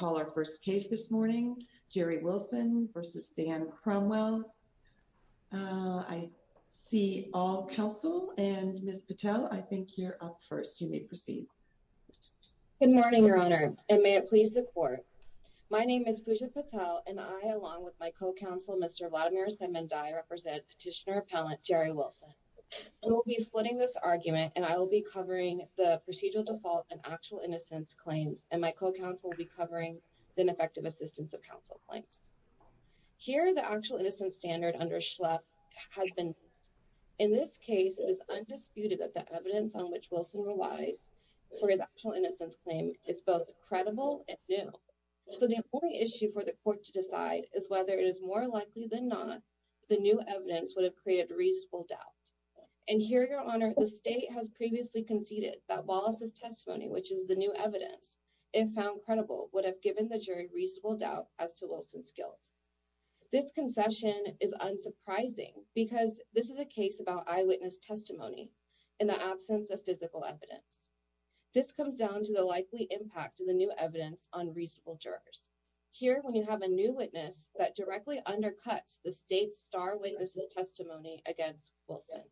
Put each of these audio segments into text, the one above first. I see all counsel and Ms. Patel, I think you're up first. You may proceed. Good morning, Your Honor, and may it please the Court. My name is Pooja Patel, and I, along with my co-counsel, Mr. Vladimir Semendai, represent Petitioner Appellant Jerry Wilson. We will be splitting this argument, and I will be covering the procedural default and actual innocence claims, and my co-counsel will be covering the ineffective assistance of counsel claims. Here, the actual innocence standard under Schlepp has been used. In this case, it is undisputed that the evidence on which Wilson relies for his actual innocence claim is both credible and new. So the only issue for the Court to decide is whether it is more likely than not that the new evidence would have created reasonable doubt. And here, Your Honor, the State has previously conceded that Wallace's testimony, which is the new evidence, if found credible, would have given the jury reasonable doubt as to Wilson's guilt. This concession is unsurprising because this is a case about eyewitness testimony in the absence of physical evidence. This comes down to the likely impact of the new evidence on reasonable jurors. Here, when you have a new witness that directly undercuts the State's star witness's testimony against Wilson.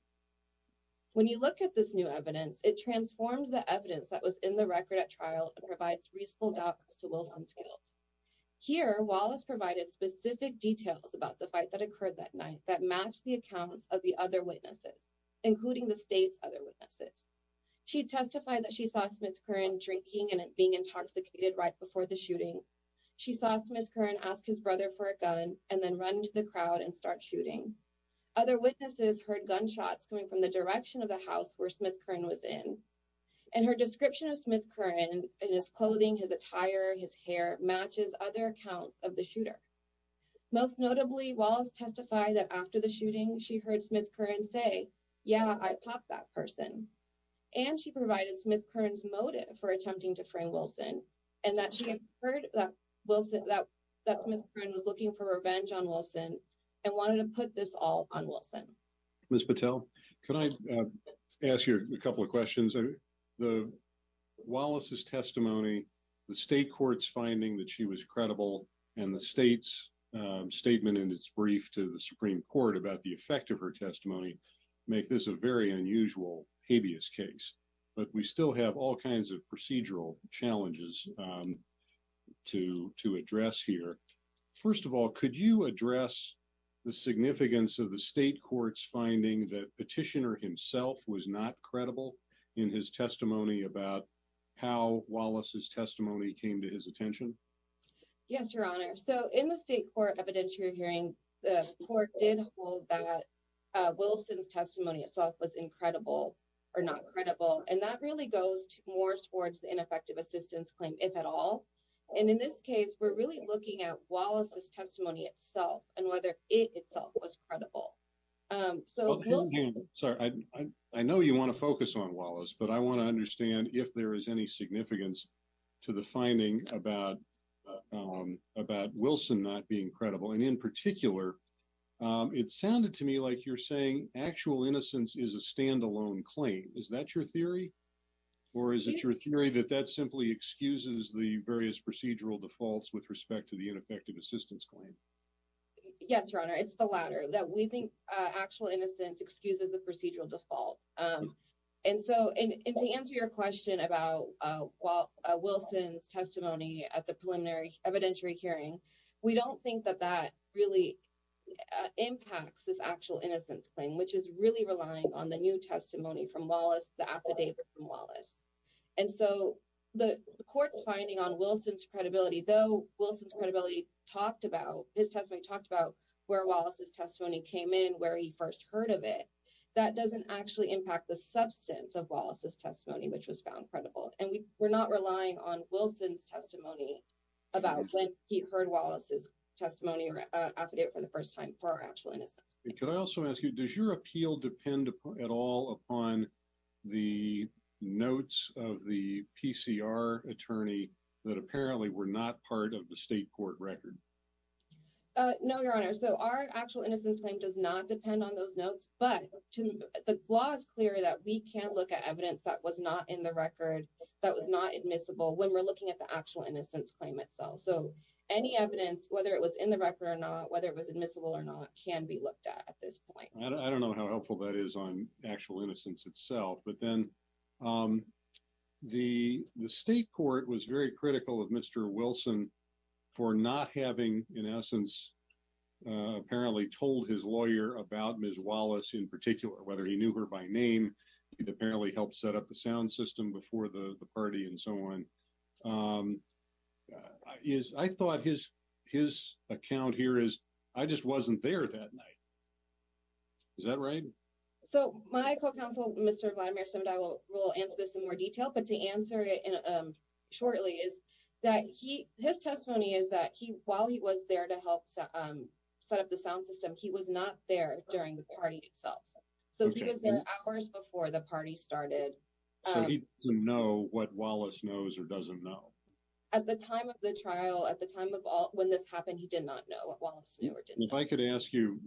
When you look at this new evidence, it transforms the evidence that was in the record at trial and provides reasonable doubt as to Wilson's guilt. Here, Wallace provided specific details about the fight that occurred that night that matched the accounts of the other witnesses, including the State's other witnesses. She testified that she saw Smith-Curran drinking and being intoxicated right before the shooting. She saw Smith-Curran ask his brother for a gun and then run into the crowd and start shooting. Other witnesses heard gunshots coming from the direction of the house where Smith-Curran was in. And her description of Smith-Curran in his clothing, his attire, his hair matches other accounts of the shooter. Most notably, Wallace testified that after the shooting, she heard Smith-Curran say, yeah, I popped that person. And she provided Smith-Curran's motive for attempting to frame Wilson and that she had heard that Smith-Curran was looking for revenge on Wilson and wanted to put this all on Wilson. Ms. Patel, can I ask you a couple of questions? Wallace's testimony, the state court's finding that she was credible, and the state's statement in its brief to the Supreme Court about the effect of her testimony make this a very unusual habeas case. But we still have all kinds of procedural challenges to address here. First of all, could you address the significance of the state court's finding that Petitioner himself was not credible in his testimony about how Wallace's testimony came to his attention? Yes, Your Honor. So in the state court evidentiary hearing, the court did hold that Wilson's testimony itself was incredible or not credible. And that really goes more towards the ineffective assistance claim, if at all. And in this case, we're really looking at Wallace's testimony itself and whether it itself was credible. I know you want to focus on Wallace, but I want to understand if there is any significance to the finding about Wilson not being credible. And in particular, it sounded to me like you're saying actual innocence is a standalone claim. Is that your theory? Or is it your theory that that simply excuses the various procedural defaults with respect to the ineffective assistance claim? Yes, Your Honor. It's the latter, that we think actual innocence excuses the procedural default. And so to answer your question about Wilson's testimony at the preliminary evidentiary hearing, we don't think that that really impacts this actual innocence claim, which is really relying on the new testimony from Wallace, the affidavit from Wallace. And so the court's finding on Wilson's credibility, though Wilson's credibility talked about, his testimony talked about where Wallace's testimony came in, where he first heard of it. That doesn't actually impact the substance of Wallace's testimony, which was found credible. And we're not relying on Wilson's testimony about when he heard Wallace's testimony or affidavit for the first time for actual innocence. Could I also ask you, does your appeal depend at all upon the notes of the PCR attorney that apparently were not part of the state court record? No, Your Honor. So our actual innocence claim does not depend on those notes. But the law is clear that we can't look at evidence that was not in the record, that was not admissible when we're looking at the actual innocence claim itself. So any evidence, whether it was in the record or not, whether it was admissible or not, can be looked at at this point. I don't know how helpful that is on actual innocence itself. But then the state court was very critical of Mr. Wilson for not having, in essence, apparently told his lawyer about Ms. Wallace in particular, whether he knew her by name. He apparently helped set up the sound system before the party and so on. I thought his account here is I just wasn't there that night. Is that right? So my co-counsel, Mr. Vladimir, and I will answer this in more detail. But to answer it shortly is that his testimony is that he while he was there to help set up the sound system, he was not there during the party itself. So he was there hours before the party started. Did he know what Wallace knows or doesn't know? At the time of the trial, at the time of all when this happened, he did not know what Wallace knew or didn't know. If I could ask you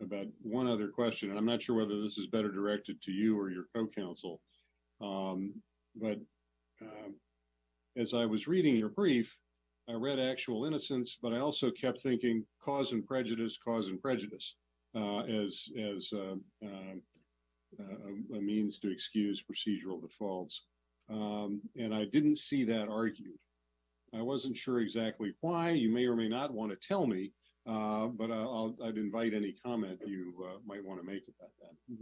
about one other question, and I'm not sure whether this is better directed to you or your co-counsel. But as I was reading your brief, I read actual innocence, but I also kept thinking cause and prejudice, cause and prejudice as a means to excuse procedural defaults. And I didn't see that argued. I wasn't sure exactly why you may or may not want to tell me, but I'd invite any comment you might want to make about that.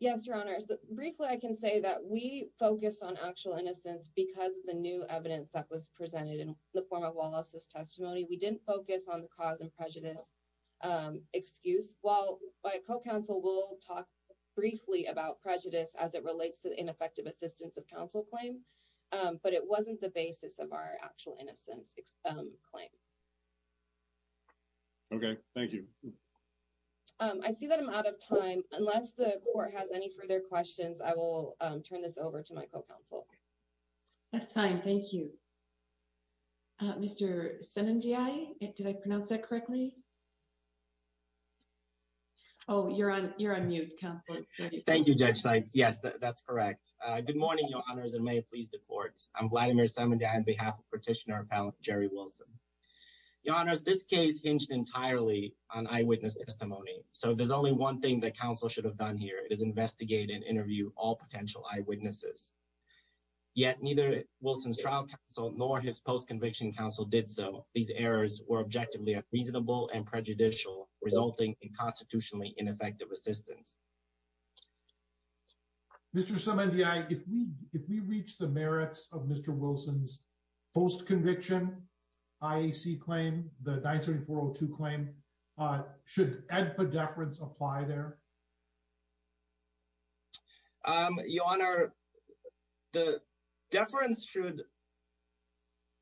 Yes, your honor. Briefly, I can say that we focused on actual innocence because of the new evidence that was presented in the form of Wallace's testimony. We didn't focus on the cause and prejudice excuse. While my co-counsel will talk briefly about prejudice as it relates to the ineffective assistance of counsel claim. But it wasn't the basis of our actual innocence claim. OK, thank you. I see that I'm out of time unless the court has any further questions. I will turn this over to my co-counsel. That's fine. Thank you. Mr. Did I pronounce that correctly? Oh, you're on. You're on mute. Thank you. Yes, that's correct. Good morning, your honors. And may it please the courts. I'm glad to hear some of that on behalf of petitioner Jerry Wilson. Your honors, this case hinged entirely on eyewitness testimony. So there's only one thing that counsel should have done here is investigate and interview all potential eyewitnesses. Yet neither Wilson's trial counsel nor his post conviction counsel did so. These errors were objectively reasonable and prejudicial, resulting in constitutionally ineffective assistance. Mr. Some NDI, if we if we reach the merits of Mr. Wilson's post conviction, I see claim the 970402 claim should add a deference apply there. Your honor, the deference should.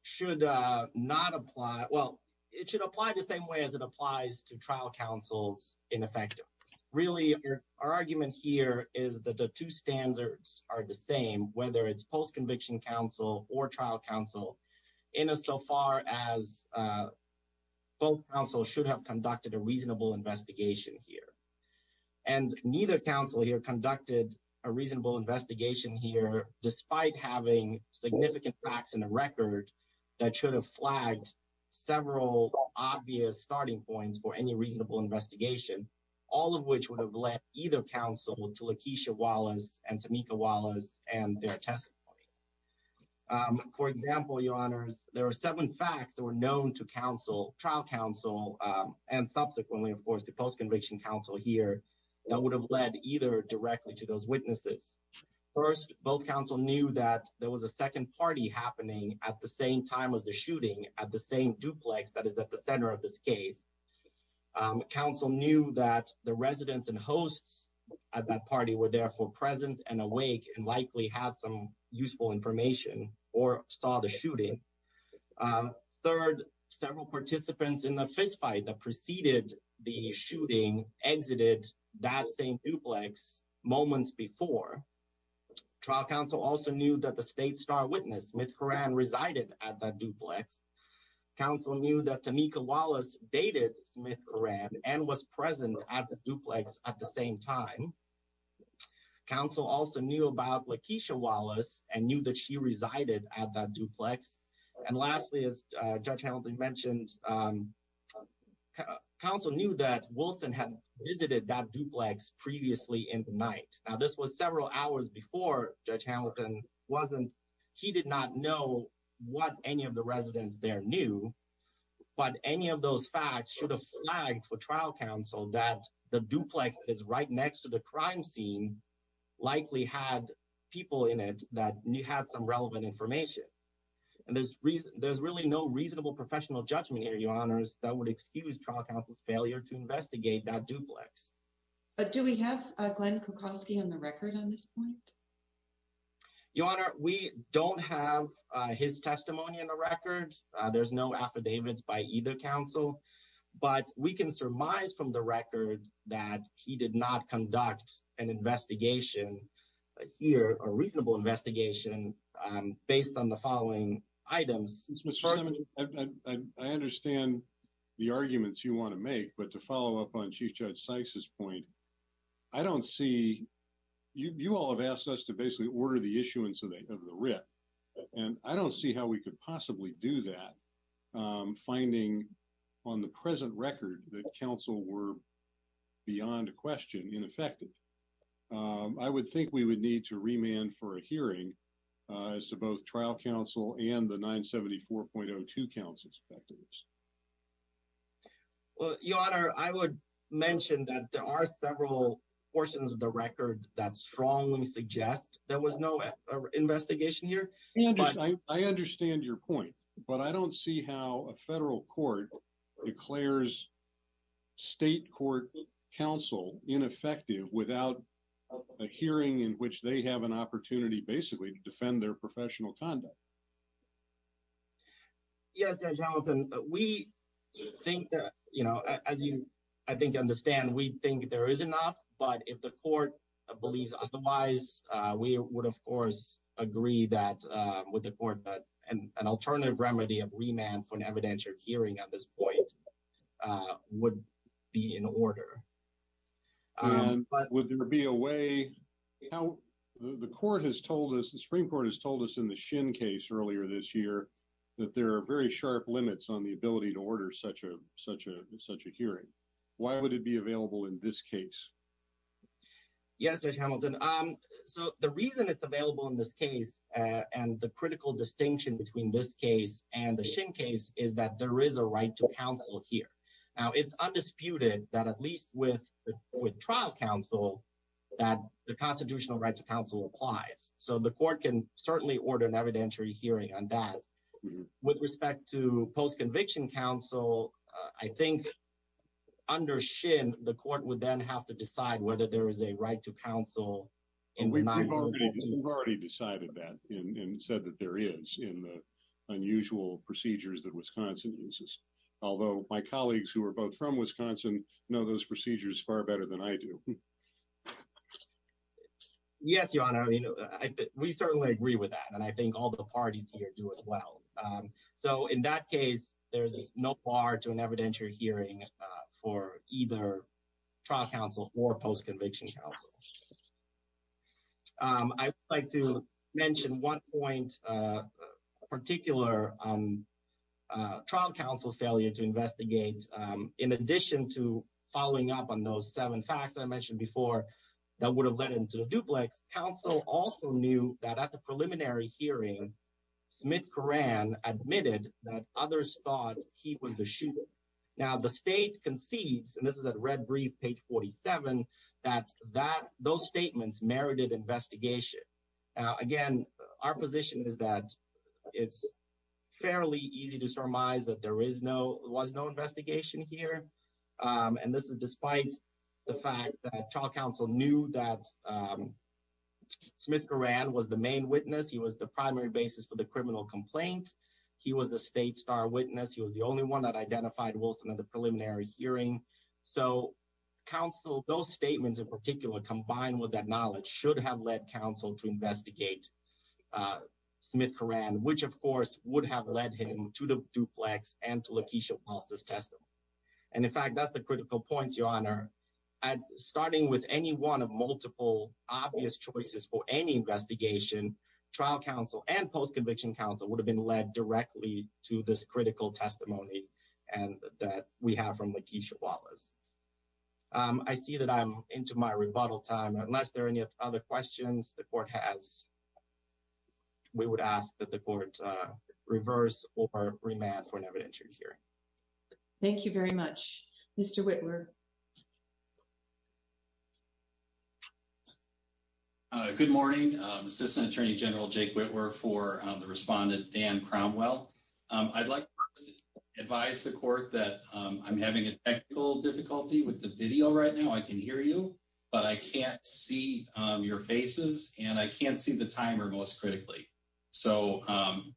Should not apply. Well, it should apply the same way as it applies to trial counsels. Really, our argument here is that the two standards are the same, whether it's post conviction counsel or trial counsel in a so far as both counsel should have conducted a reasonable investigation here. And neither counsel here conducted a reasonable investigation here, despite having significant facts in the record that should have flagged several obvious starting points for any reasonable investigation, all of which would have led either counsel to LaKeisha Wallace and Tamika Wallace and their testimony. For example, your honors, there are seven facts that were known to counsel, trial counsel, and subsequently, of course, the post conviction counsel here that would have led either directly to those witnesses. First, both counsel knew that there was a second party happening at the same time as the shooting at the same duplex that is at the center of this case. Counsel knew that the residents and hosts at that party were therefore present and awake and likely have some useful information or saw the shooting. Third, several participants in the fistfight that preceded the shooting exited that same duplex moments before. Trial counsel also knew that the state star witness, Smith Horan, resided at that duplex. Counsel knew that Tamika Wallace dated Smith Horan and was present at the duplex at the same time. Counsel also knew about LaKeisha Wallace and knew that she resided at that duplex. And lastly, as Judge Hamilton mentioned, counsel knew that Wilson had visited that duplex previously in the night. Now, this was several hours before Judge Hamilton wasn't, he did not know what any of the residents there knew. But any of those facts should have flagged for trial counsel that the duplex is right next to the crime scene, likely had people in it that had some relevant information. And there's really no reasonable professional judgment here, your honors, that would excuse trial counsel's failure to investigate that duplex. But do we have Glenn Kokoski on the record on this point? Your honor, we don't have his testimony in the record. There's no affidavits by either counsel, but we can surmise from the record that he did not conduct an investigation here, a reasonable investigation based on the following items. I understand the arguments you want to make. But to follow up on Chief Judge Sykes's point, I don't see you all have asked us to basically order the issuance of the writ. And I don't see how we could possibly do that. Finding on the present record that counsel were beyond a question ineffective. I would think we would need to remand for a hearing as to both trial counsel and the 974.02 counts inspectors. Your honor, I would mention that there are several portions of the record that strongly suggest there was no investigation here. I understand your point, but I don't see how a federal court declares state court counsel ineffective without a hearing in which they have an opportunity basically to defend their professional conduct. Yes. Jonathan, we think that, you know, as you, I think, understand, we think there is enough. But if the court believes otherwise, we would, of course, agree that with the court and an alternative remedy of remand for an evidentiary hearing at this point would be in order. But would there be a way how the court has told us the Supreme Court has told us in the shin case earlier this year that there are very sharp limits on the ability to order such a such a such a hearing? Why would it be available in this case? Yes, Hamilton. So the reason it's available in this case and the critical distinction between this case and the same case is that there is a right to counsel here. Now, it's undisputed that at least with with trial counsel that the Constitutional Rights Council applies. So the court can certainly order an evidentiary hearing on that. With respect to post-conviction counsel, I think under Shin, the court would then have to decide whether there is a right to counsel. We've already decided that and said that there is in the unusual procedures that Wisconsin uses. Although my colleagues who are both from Wisconsin know those procedures far better than I do. Yes, your honor. We certainly agree with that. And I think all the parties here do as well. So in that case, there's no bar to an evidentiary hearing for either trial counsel or post-conviction counsel. I'd like to mention one point particular trial counsel's failure to investigate. In addition to following up on those seven facts I mentioned before, that would have led into a duplex. Counsel also knew that at the preliminary hearing, Smith Coran admitted that others thought he was the shooter. Now the state concedes, and this is that red brief page 47, that those statements merited investigation. Again, our position is that it's fairly easy to surmise that there was no investigation here. And this is despite the fact that trial counsel knew that Smith Coran was the main witness. He was the primary basis for the criminal complaint. He was the state star witness. He was the only one that identified Wilson at the preliminary hearing. So counsel, those statements in particular, combined with that knowledge should have led counsel to investigate Smith Coran, which, of course, would have led him to the duplex and to Lakeisha Paulson's testimony. And in fact, that's the critical points, your honor. Starting with any one of multiple obvious choices for any investigation, trial counsel and post-conviction counsel would have been led directly to this critical testimony and that we have from Lakeisha Wallace. I see that I'm into my rebuttal time, unless there are any other questions the court has. We would ask that the court reverse or remand for an evidentiary hearing. Thank you very much, Mr. Whitmer. Good morning, Assistant Attorney General Jake Whitmer for the respondent Dan Cromwell. I'd like to advise the court that I'm having a technical difficulty with the video right now. I can hear you, but I can't see your faces and I can't see the timer most critically. So I'm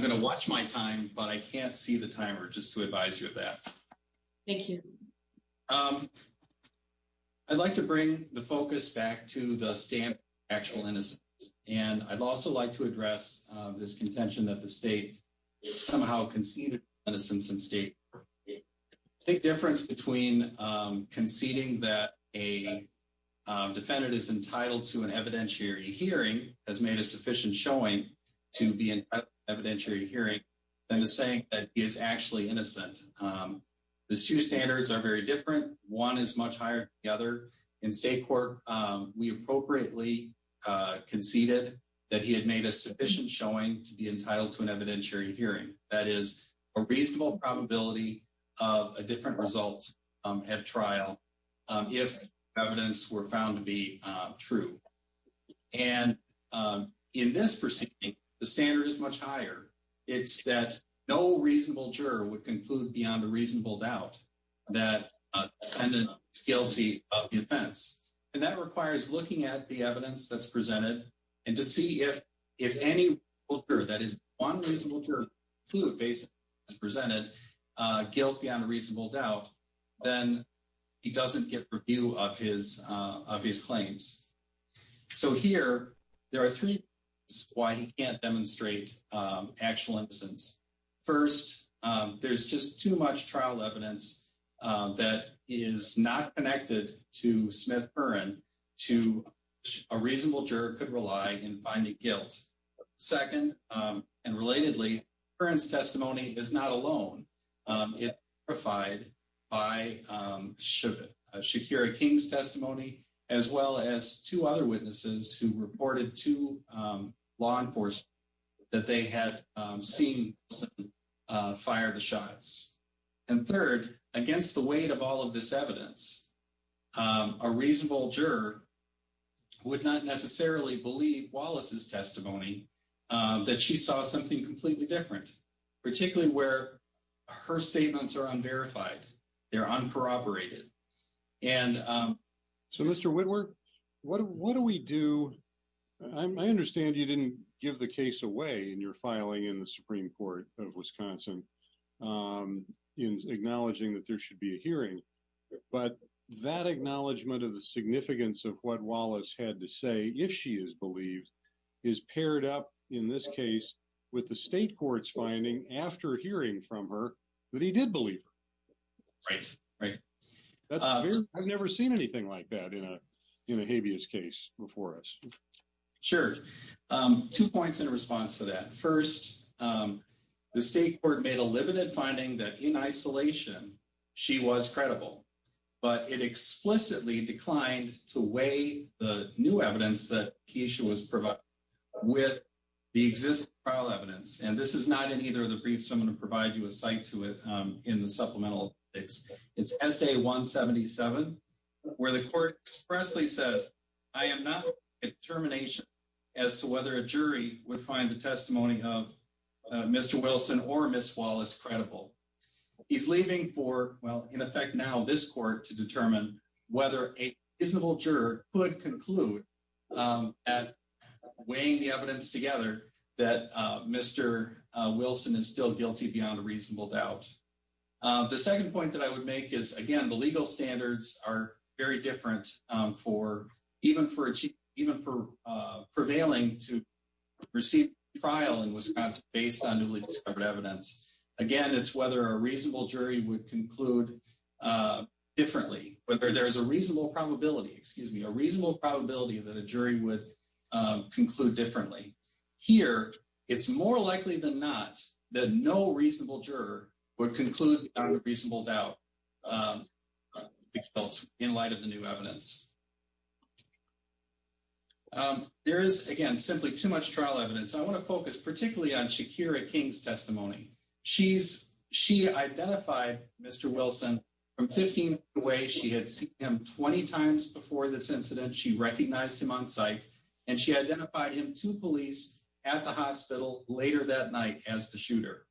going to watch my time, but I can't see the timer just to advise you of that. Thank you. I'd like to bring the focus back to the stand actual innocence. And I'd also like to address this contention that the state somehow conceded innocence in state. Big difference between conceding that a defendant is entitled to an evidentiary hearing has made a sufficient showing to be an evidentiary hearing. And the saying that is actually innocent. The two standards are very different. One is much higher. The other in state court, we appropriately conceded that he had made a sufficient showing to be entitled to an evidentiary hearing. That is a reasonable probability of a different result at trial if evidence were found to be true. And in this proceeding, the standard is much higher. It's that no reasonable juror would conclude beyond a reasonable doubt that the defendant is guilty of the offense. And that requires looking at the evidence that's presented and to see if any juror, that is one reasonable juror, who basically presented guilty on a reasonable doubt, then he doesn't get review of his claims. So here there are three reasons why he can't demonstrate actual innocence. First, there's just too much trial evidence that is not connected to Smith-Burren to a reasonable juror could rely in finding guilt. Second, and relatedly, Burren's testimony is not alone. It was verified by Shakira King's testimony, as well as two other witnesses who reported to law enforcement that they had seen someone fire the shots. And third, against the weight of all of this evidence, a reasonable juror would not necessarily believe Wallace's testimony that she saw something completely different, particularly where her statements are unverified. They're unproperated. And so, Mr. Whitworth, what do we do? I understand you didn't give the case away in your filing in the Supreme Court of Wisconsin in acknowledging that there should be a hearing. But that acknowledgement of the significance of what Wallace had to say, if she is believed, is paired up in this case with the state court's finding after hearing from her that he did believe her. Right, right. I've never seen anything like that in a habeas case before us. Sure. Two points in response to that. First, the state court made a limited finding that in isolation, she was credible. But it explicitly declined to weigh the new evidence that Keisha was providing with the existing trial evidence. And this is not in either of the briefs. I'm going to provide you a cite to it in the supplemental. It's it's S.A. 177, where the court expressly says, I am not a determination as to whether a jury would find the testimony of Mr. Wilson or Miss Wallace credible. He's leaving for, well, in effect, now this court to determine whether a reasonable juror could conclude at weighing the evidence together that Mr. Wilson is still guilty beyond a reasonable doubt. The second point that I would make is, again, the legal standards are very different for even for even for prevailing to receive trial in Wisconsin based on newly discovered evidence. Again, it's whether a reasonable jury would conclude differently, whether there is a reasonable probability, excuse me, a reasonable probability that a jury would conclude differently. Here, it's more likely than not that no reasonable juror would conclude a reasonable doubt in light of the new evidence. There is, again, simply too much trial evidence. I want to focus particularly on Shakira King's testimony. She's she identified Mr. Wilson from 15 away. She had seen him 20 times before this incident. She recognized him on site and she identified him to police at the hospital later that night as the shooter.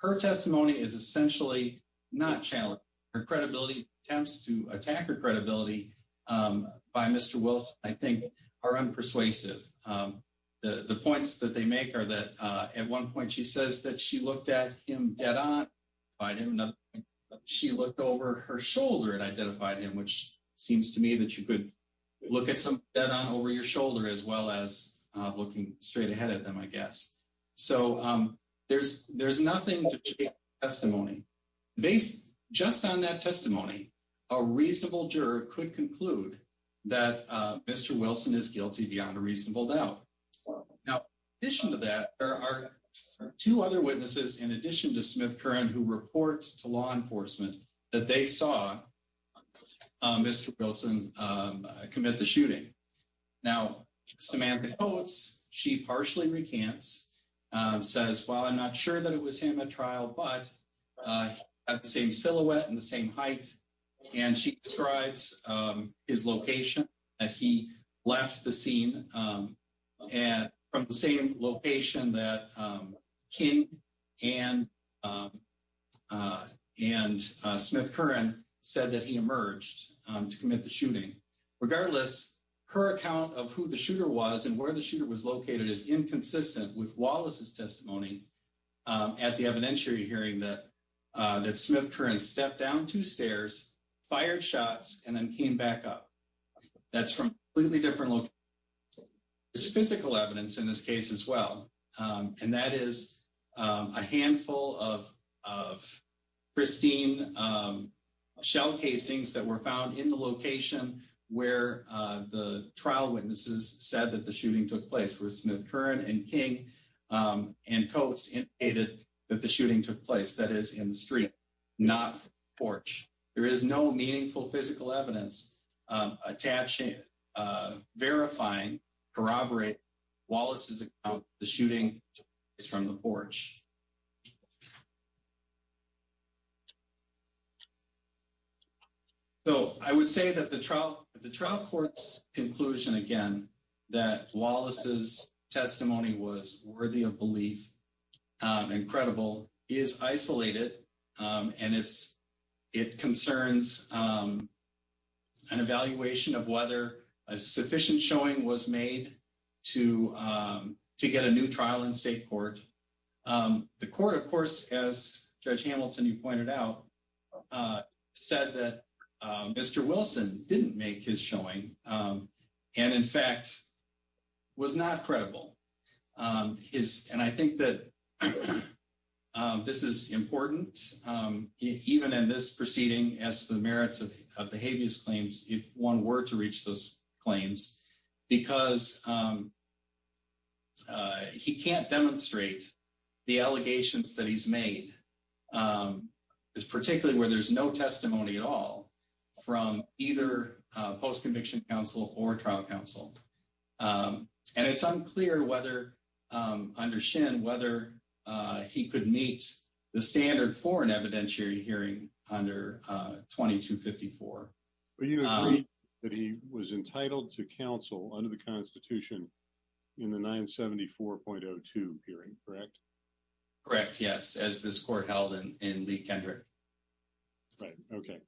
Her testimony is essentially not challenged. Her credibility attempts to attack her credibility by Mr. Wilson, I think, are unpersuasive. The points that they make are that at one point, she says that she looked at him dead on. She looked over her shoulder and identified him, which seems to me that you could look at some dead on over your shoulder as well as looking straight ahead at them, I guess. So there's there's nothing testimony based just on that testimony. A reasonable juror could conclude that Mr. Wilson is guilty beyond a reasonable doubt. Now, in addition to that, there are two other witnesses, in addition to Smith current, who reports to law enforcement that they saw Mr. Wilson commit the shooting. Now, Samantha Coates, she partially recants, says, well, I'm not sure that it was him at trial, but at the same silhouette and the same height. And she describes his location that he left the scene and from the same location that King and and Smith current said that he emerged to commit the shooting. Regardless, her account of who the shooter was and where the shooter was located is inconsistent with Wallace's testimony at the evidentiary hearing that that Smith current stepped down two stairs, fired shots and then came back up. That's from a completely different look. There's a physical evidence in this case as well. And that is a handful of of pristine shell casings that were found in the location where the trial witnesses said that the shooting took place. So, I would say that the trial, the trial court's conclusion, again, that Wallace's testimony is inconsistent with Smith current and King and Coates indicated that the shooting took place, that is, in the street, not porch. There is no meaningful physical evidence attaching, verifying, corroborate Wallace's account of the shooting from the porch. So, I would say that the trial, the trial court's conclusion, again, that Wallace's testimony was worthy of belief and credible is isolated and it's, it concerns an evaluation of whether a sufficient showing was made to to get a new trial in state court. The court, of course, as Judge Hamilton, you pointed out, said that Mr. Wilson didn't make his showing and, in fact, was not credible. And I think that this is important, even in this proceeding, as the merits of the habeas claims, if one were to reach those claims, because he can't demonstrate the allegations that he's made, particularly where there's no testimony at all from either post-conviction counsel or trial counsel. And it's unclear whether, under Shin, whether he could meet the standard for an evidentiary hearing under 2254. But you agree that he was entitled to counsel under the Constitution in the 974.02 hearing, correct? Correct, yes, as this court held in Lee Kendrick. Right, okay.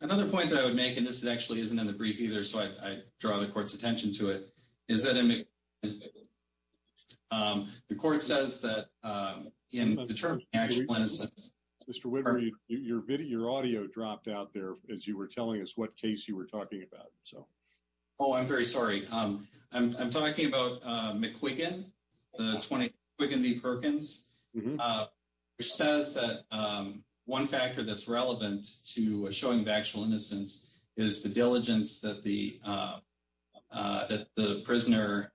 Another point that I would make, and this actually isn't in the brief either, so I draw the court's attention to it, is that the court says that in the term, actually, Mr. Your video, your audio dropped out there as you were telling us what case you were talking about. Oh, I'm very sorry. I'm talking about McQuiggan, the 20 McQuiggan v. Perkins, which says that one factor that's relevant to a showing of actual innocence is the diligence that the prisoner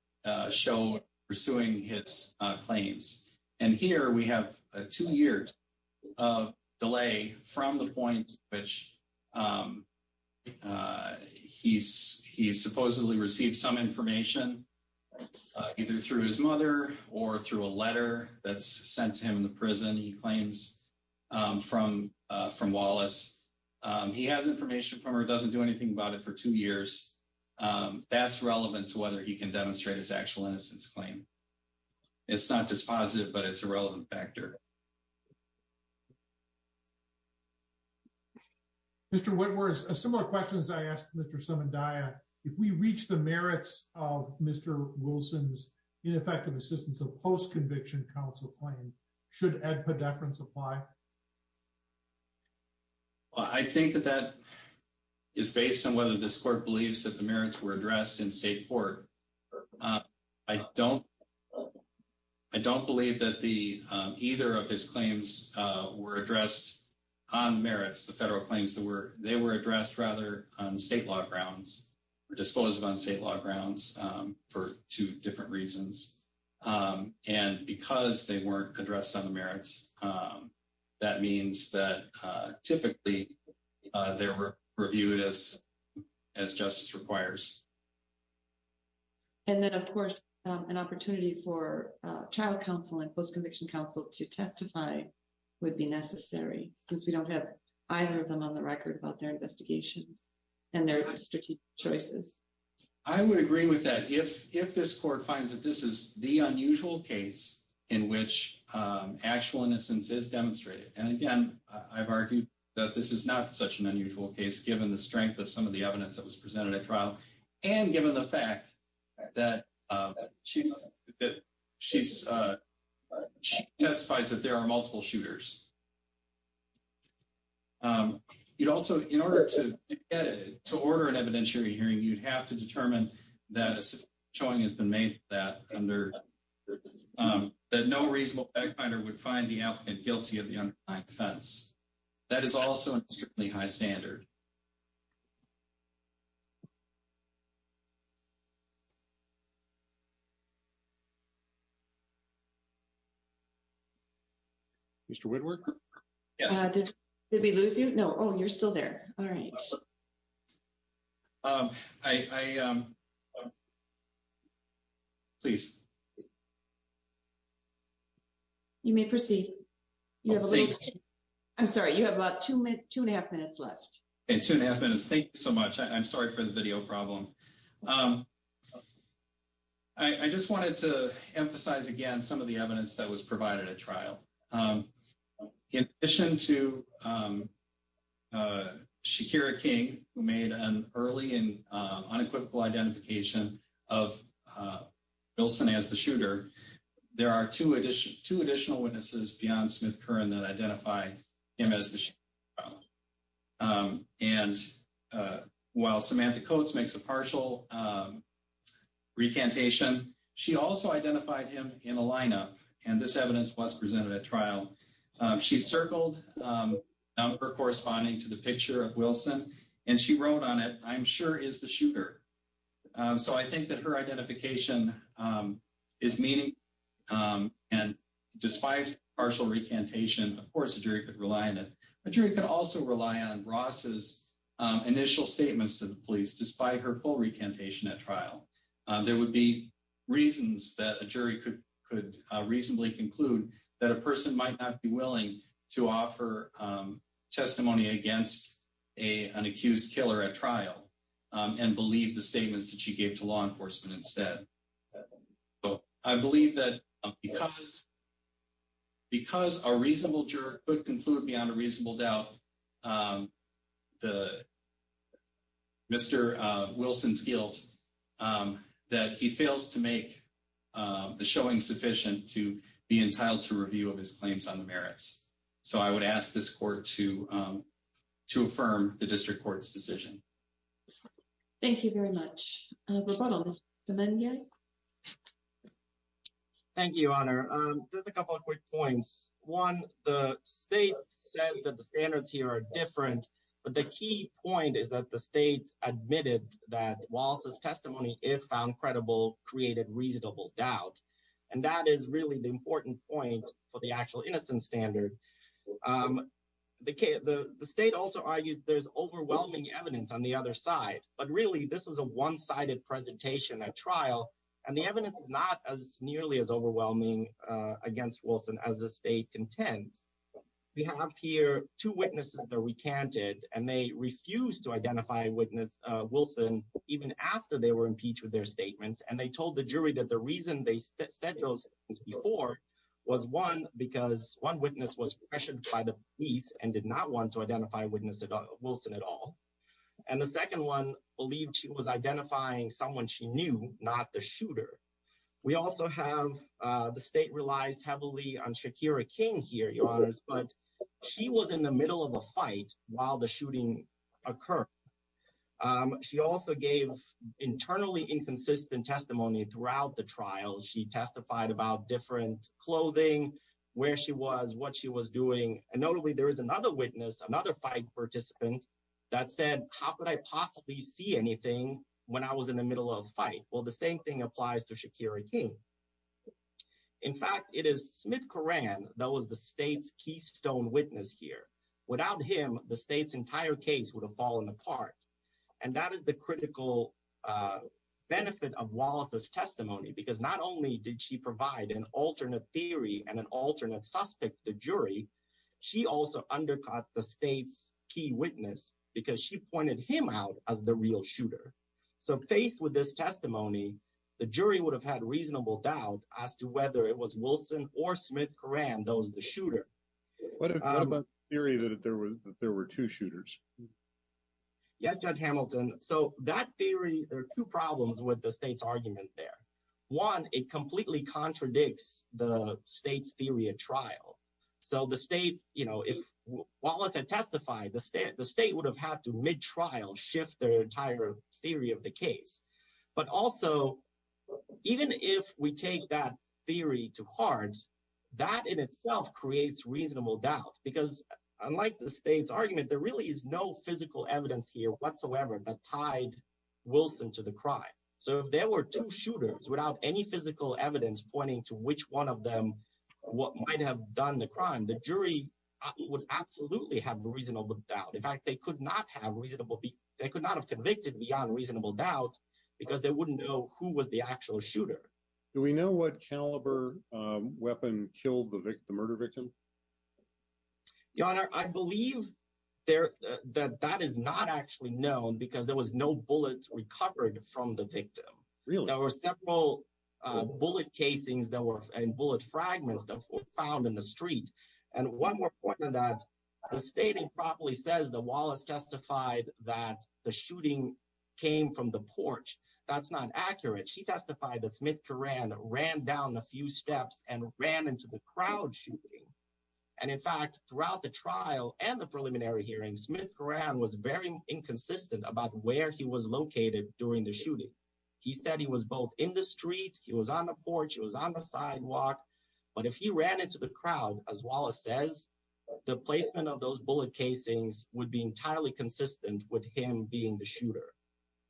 showed pursuing his claims. And here we have two years of delay from the point which he supposedly received some information either through his mother or through a letter that's sent to him in the prison, he claims, from Wallace. He has information from her, doesn't do anything about it for two years. That's relevant to whether he can demonstrate his actual innocence claim. It's not just positive, but it's a relevant factor. Mr. Whitmore, a similar question as I asked Mr. Sumandaya, if we reach the merits of Mr. Wilson's ineffective assistance of post-conviction counsel claim, should ed-pedefrance apply? I think that that is based on whether this court believes that the merits were addressed in state court. I don't I don't believe that the either of his claims were addressed on merits. The federal claims that were they were addressed rather on state law grounds were disposed of on state law grounds for two different reasons. And because they weren't addressed on the merits, that means that typically they were reviewed as justice requires. And then, of course, an opportunity for trial counsel and post-conviction counsel to testify would be necessary since we don't have either of them on the record about their investigations and their strategic choices. I would agree with that if if this court finds that this is the unusual case in which actual innocence is demonstrated. And again, I've argued that this is not such an unusual case, given the strength of some of the evidence that was presented at trial and given the fact that she's that she's testifies that there are multiple shooters. It also, in order to get it to order an evidentiary hearing, you'd have to determine that showing has been made that under that no reasonable backfinder would find the applicant guilty of the defense. That is also a strictly high standard. Mr. Woodward. Yes. Did we lose you? No. Oh, you're still there. All right. I. Please. You may proceed. I'm sorry. You have about two minutes, two and a half minutes left. Thank you so much. I'm sorry for the video problem. I just wanted to emphasize, again, some of the evidence that was provided at trial. In addition to Shakira King, who made an early and unequivocal identification of Wilson as the shooter, there are two additional witnesses beyond Smith-Curran that identify him as the shooter. And while Samantha Coates makes a partial recantation, she also identified him in a lineup. And this evidence was presented at trial. She circled her corresponding to the picture of Wilson, and she wrote on it. I'm sure is the shooter. So I think that her identification is meaning. And despite partial recantation, of course, a jury could rely on it. A jury could also rely on Ross's initial statements to the police, despite her full recantation at trial. There would be reasons that a jury could reasonably conclude that a person might not be willing to offer testimony against an accused killer at trial and believe the statements that she gave to law enforcement instead. I believe that because a reasonable juror could conclude beyond a reasonable doubt Mr. Wilson's guilt, that he fails to make the showing sufficient to be entitled to review of his claims on the merits. So I would ask this court to affirm the district court's decision. Thank you very much. Thank you, Honor. Just a couple of quick points. One, the state says that the standards here are different. But the key point is that the state admitted that Wallace's testimony, if found credible, created reasonable doubt. And that is really the important point for the actual innocence standard. The state also argues there's overwhelming evidence on the other side. But really, this was a one-sided presentation at trial. And the evidence is not nearly as overwhelming against Wilson as the state contends. We have here two witnesses that recanted. And they refused to identify witness Wilson even after they were impeached with their statements. And they told the jury that the reason they said those things before was, one, because one witness was pressured by the police and did not want to identify witness Wilson at all. And the second one believed she was identifying someone she knew, not the shooter. We also have the state relies heavily on Shakira King here, Your Honors. But she was in the middle of a fight while the shooting occurred. She also gave internally inconsistent testimony throughout the trial. She testified about different clothing, where she was, what she was doing. And notably, there was another witness, another fight participant, that said, how could I possibly see anything when I was in the middle of a fight? Well, the same thing applies to Shakira King. In fact, it is Smith Coran that was the state's keystone witness here. Without him, the state's entire case would have fallen apart. And that is the critical benefit of Wallace's testimony, because not only did she provide an alternate theory and an alternate suspect to jury, she also undercut the state's key witness, because she pointed him out as the real shooter. So faced with this testimony, the jury would have had reasonable doubt as to whether it was Wilson or Smith Coran that was the shooter. What about the theory that there were two shooters? Yes, Judge Hamilton. So that theory, there are two problems with the state's argument there. One, it completely contradicts the state's theory at trial. So the state, you know, if Wallace had testified, the state would have had to mid-trial shift their entire theory of the case. But also, even if we take that theory to heart, that in itself creates reasonable doubt. Because unlike the state's argument, there really is no physical evidence here whatsoever that tied Wilson to the crime. So if there were two shooters without any physical evidence pointing to which one of them might have done the crime, the jury would absolutely have reasonable doubt. In fact, they could not have convicted beyond reasonable doubt because they wouldn't know who was the actual shooter. Do we know what caliber weapon killed the murder victim? Your Honor, I believe that that is not actually known because there was no bullet recovered from the victim. There were several bullet casings and bullet fragments that were found in the street. And one more point on that, the stating properly says that Wallace testified that the shooting came from the porch. That's not accurate. She testified that Smith-Coran ran down a few steps and ran into the crowd shooting. And in fact, throughout the trial and the preliminary hearing, Smith-Coran was very inconsistent about where he was located during the shooting. He said he was both in the street, he was on the porch, he was on the sidewalk. But if he ran into the crowd, as Wallace says, the placement of those bullet casings would be entirely consistent with him being the shooter.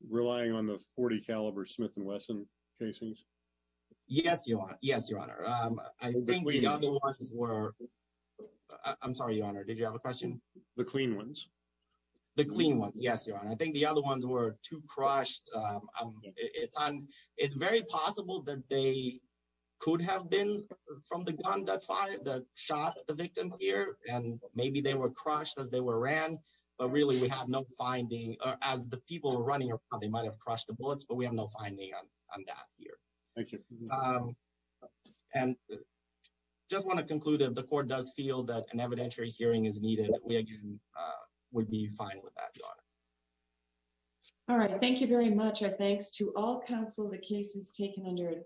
Relying on the 40 caliber Smith and Wesson casings? Yes, Your Honor. Yes, Your Honor. I think the other ones were... I'm sorry, Your Honor. Did you have a question? The clean ones? The clean ones. Yes, Your Honor. I think the other ones were too crushed. It's very possible that they could have been from the gun that shot the victim here and maybe they were crushed as they were ran. But really, we have no finding. As the people were running around, they might have crushed the bullets, but we have no finding on that here. Thank you. And I just want to conclude that the court does feel that an evidentiary hearing is needed. We again would be fine with that, Your Honor. All right. Thank you very much. Our thanks to all counsel. The case is taken under advice.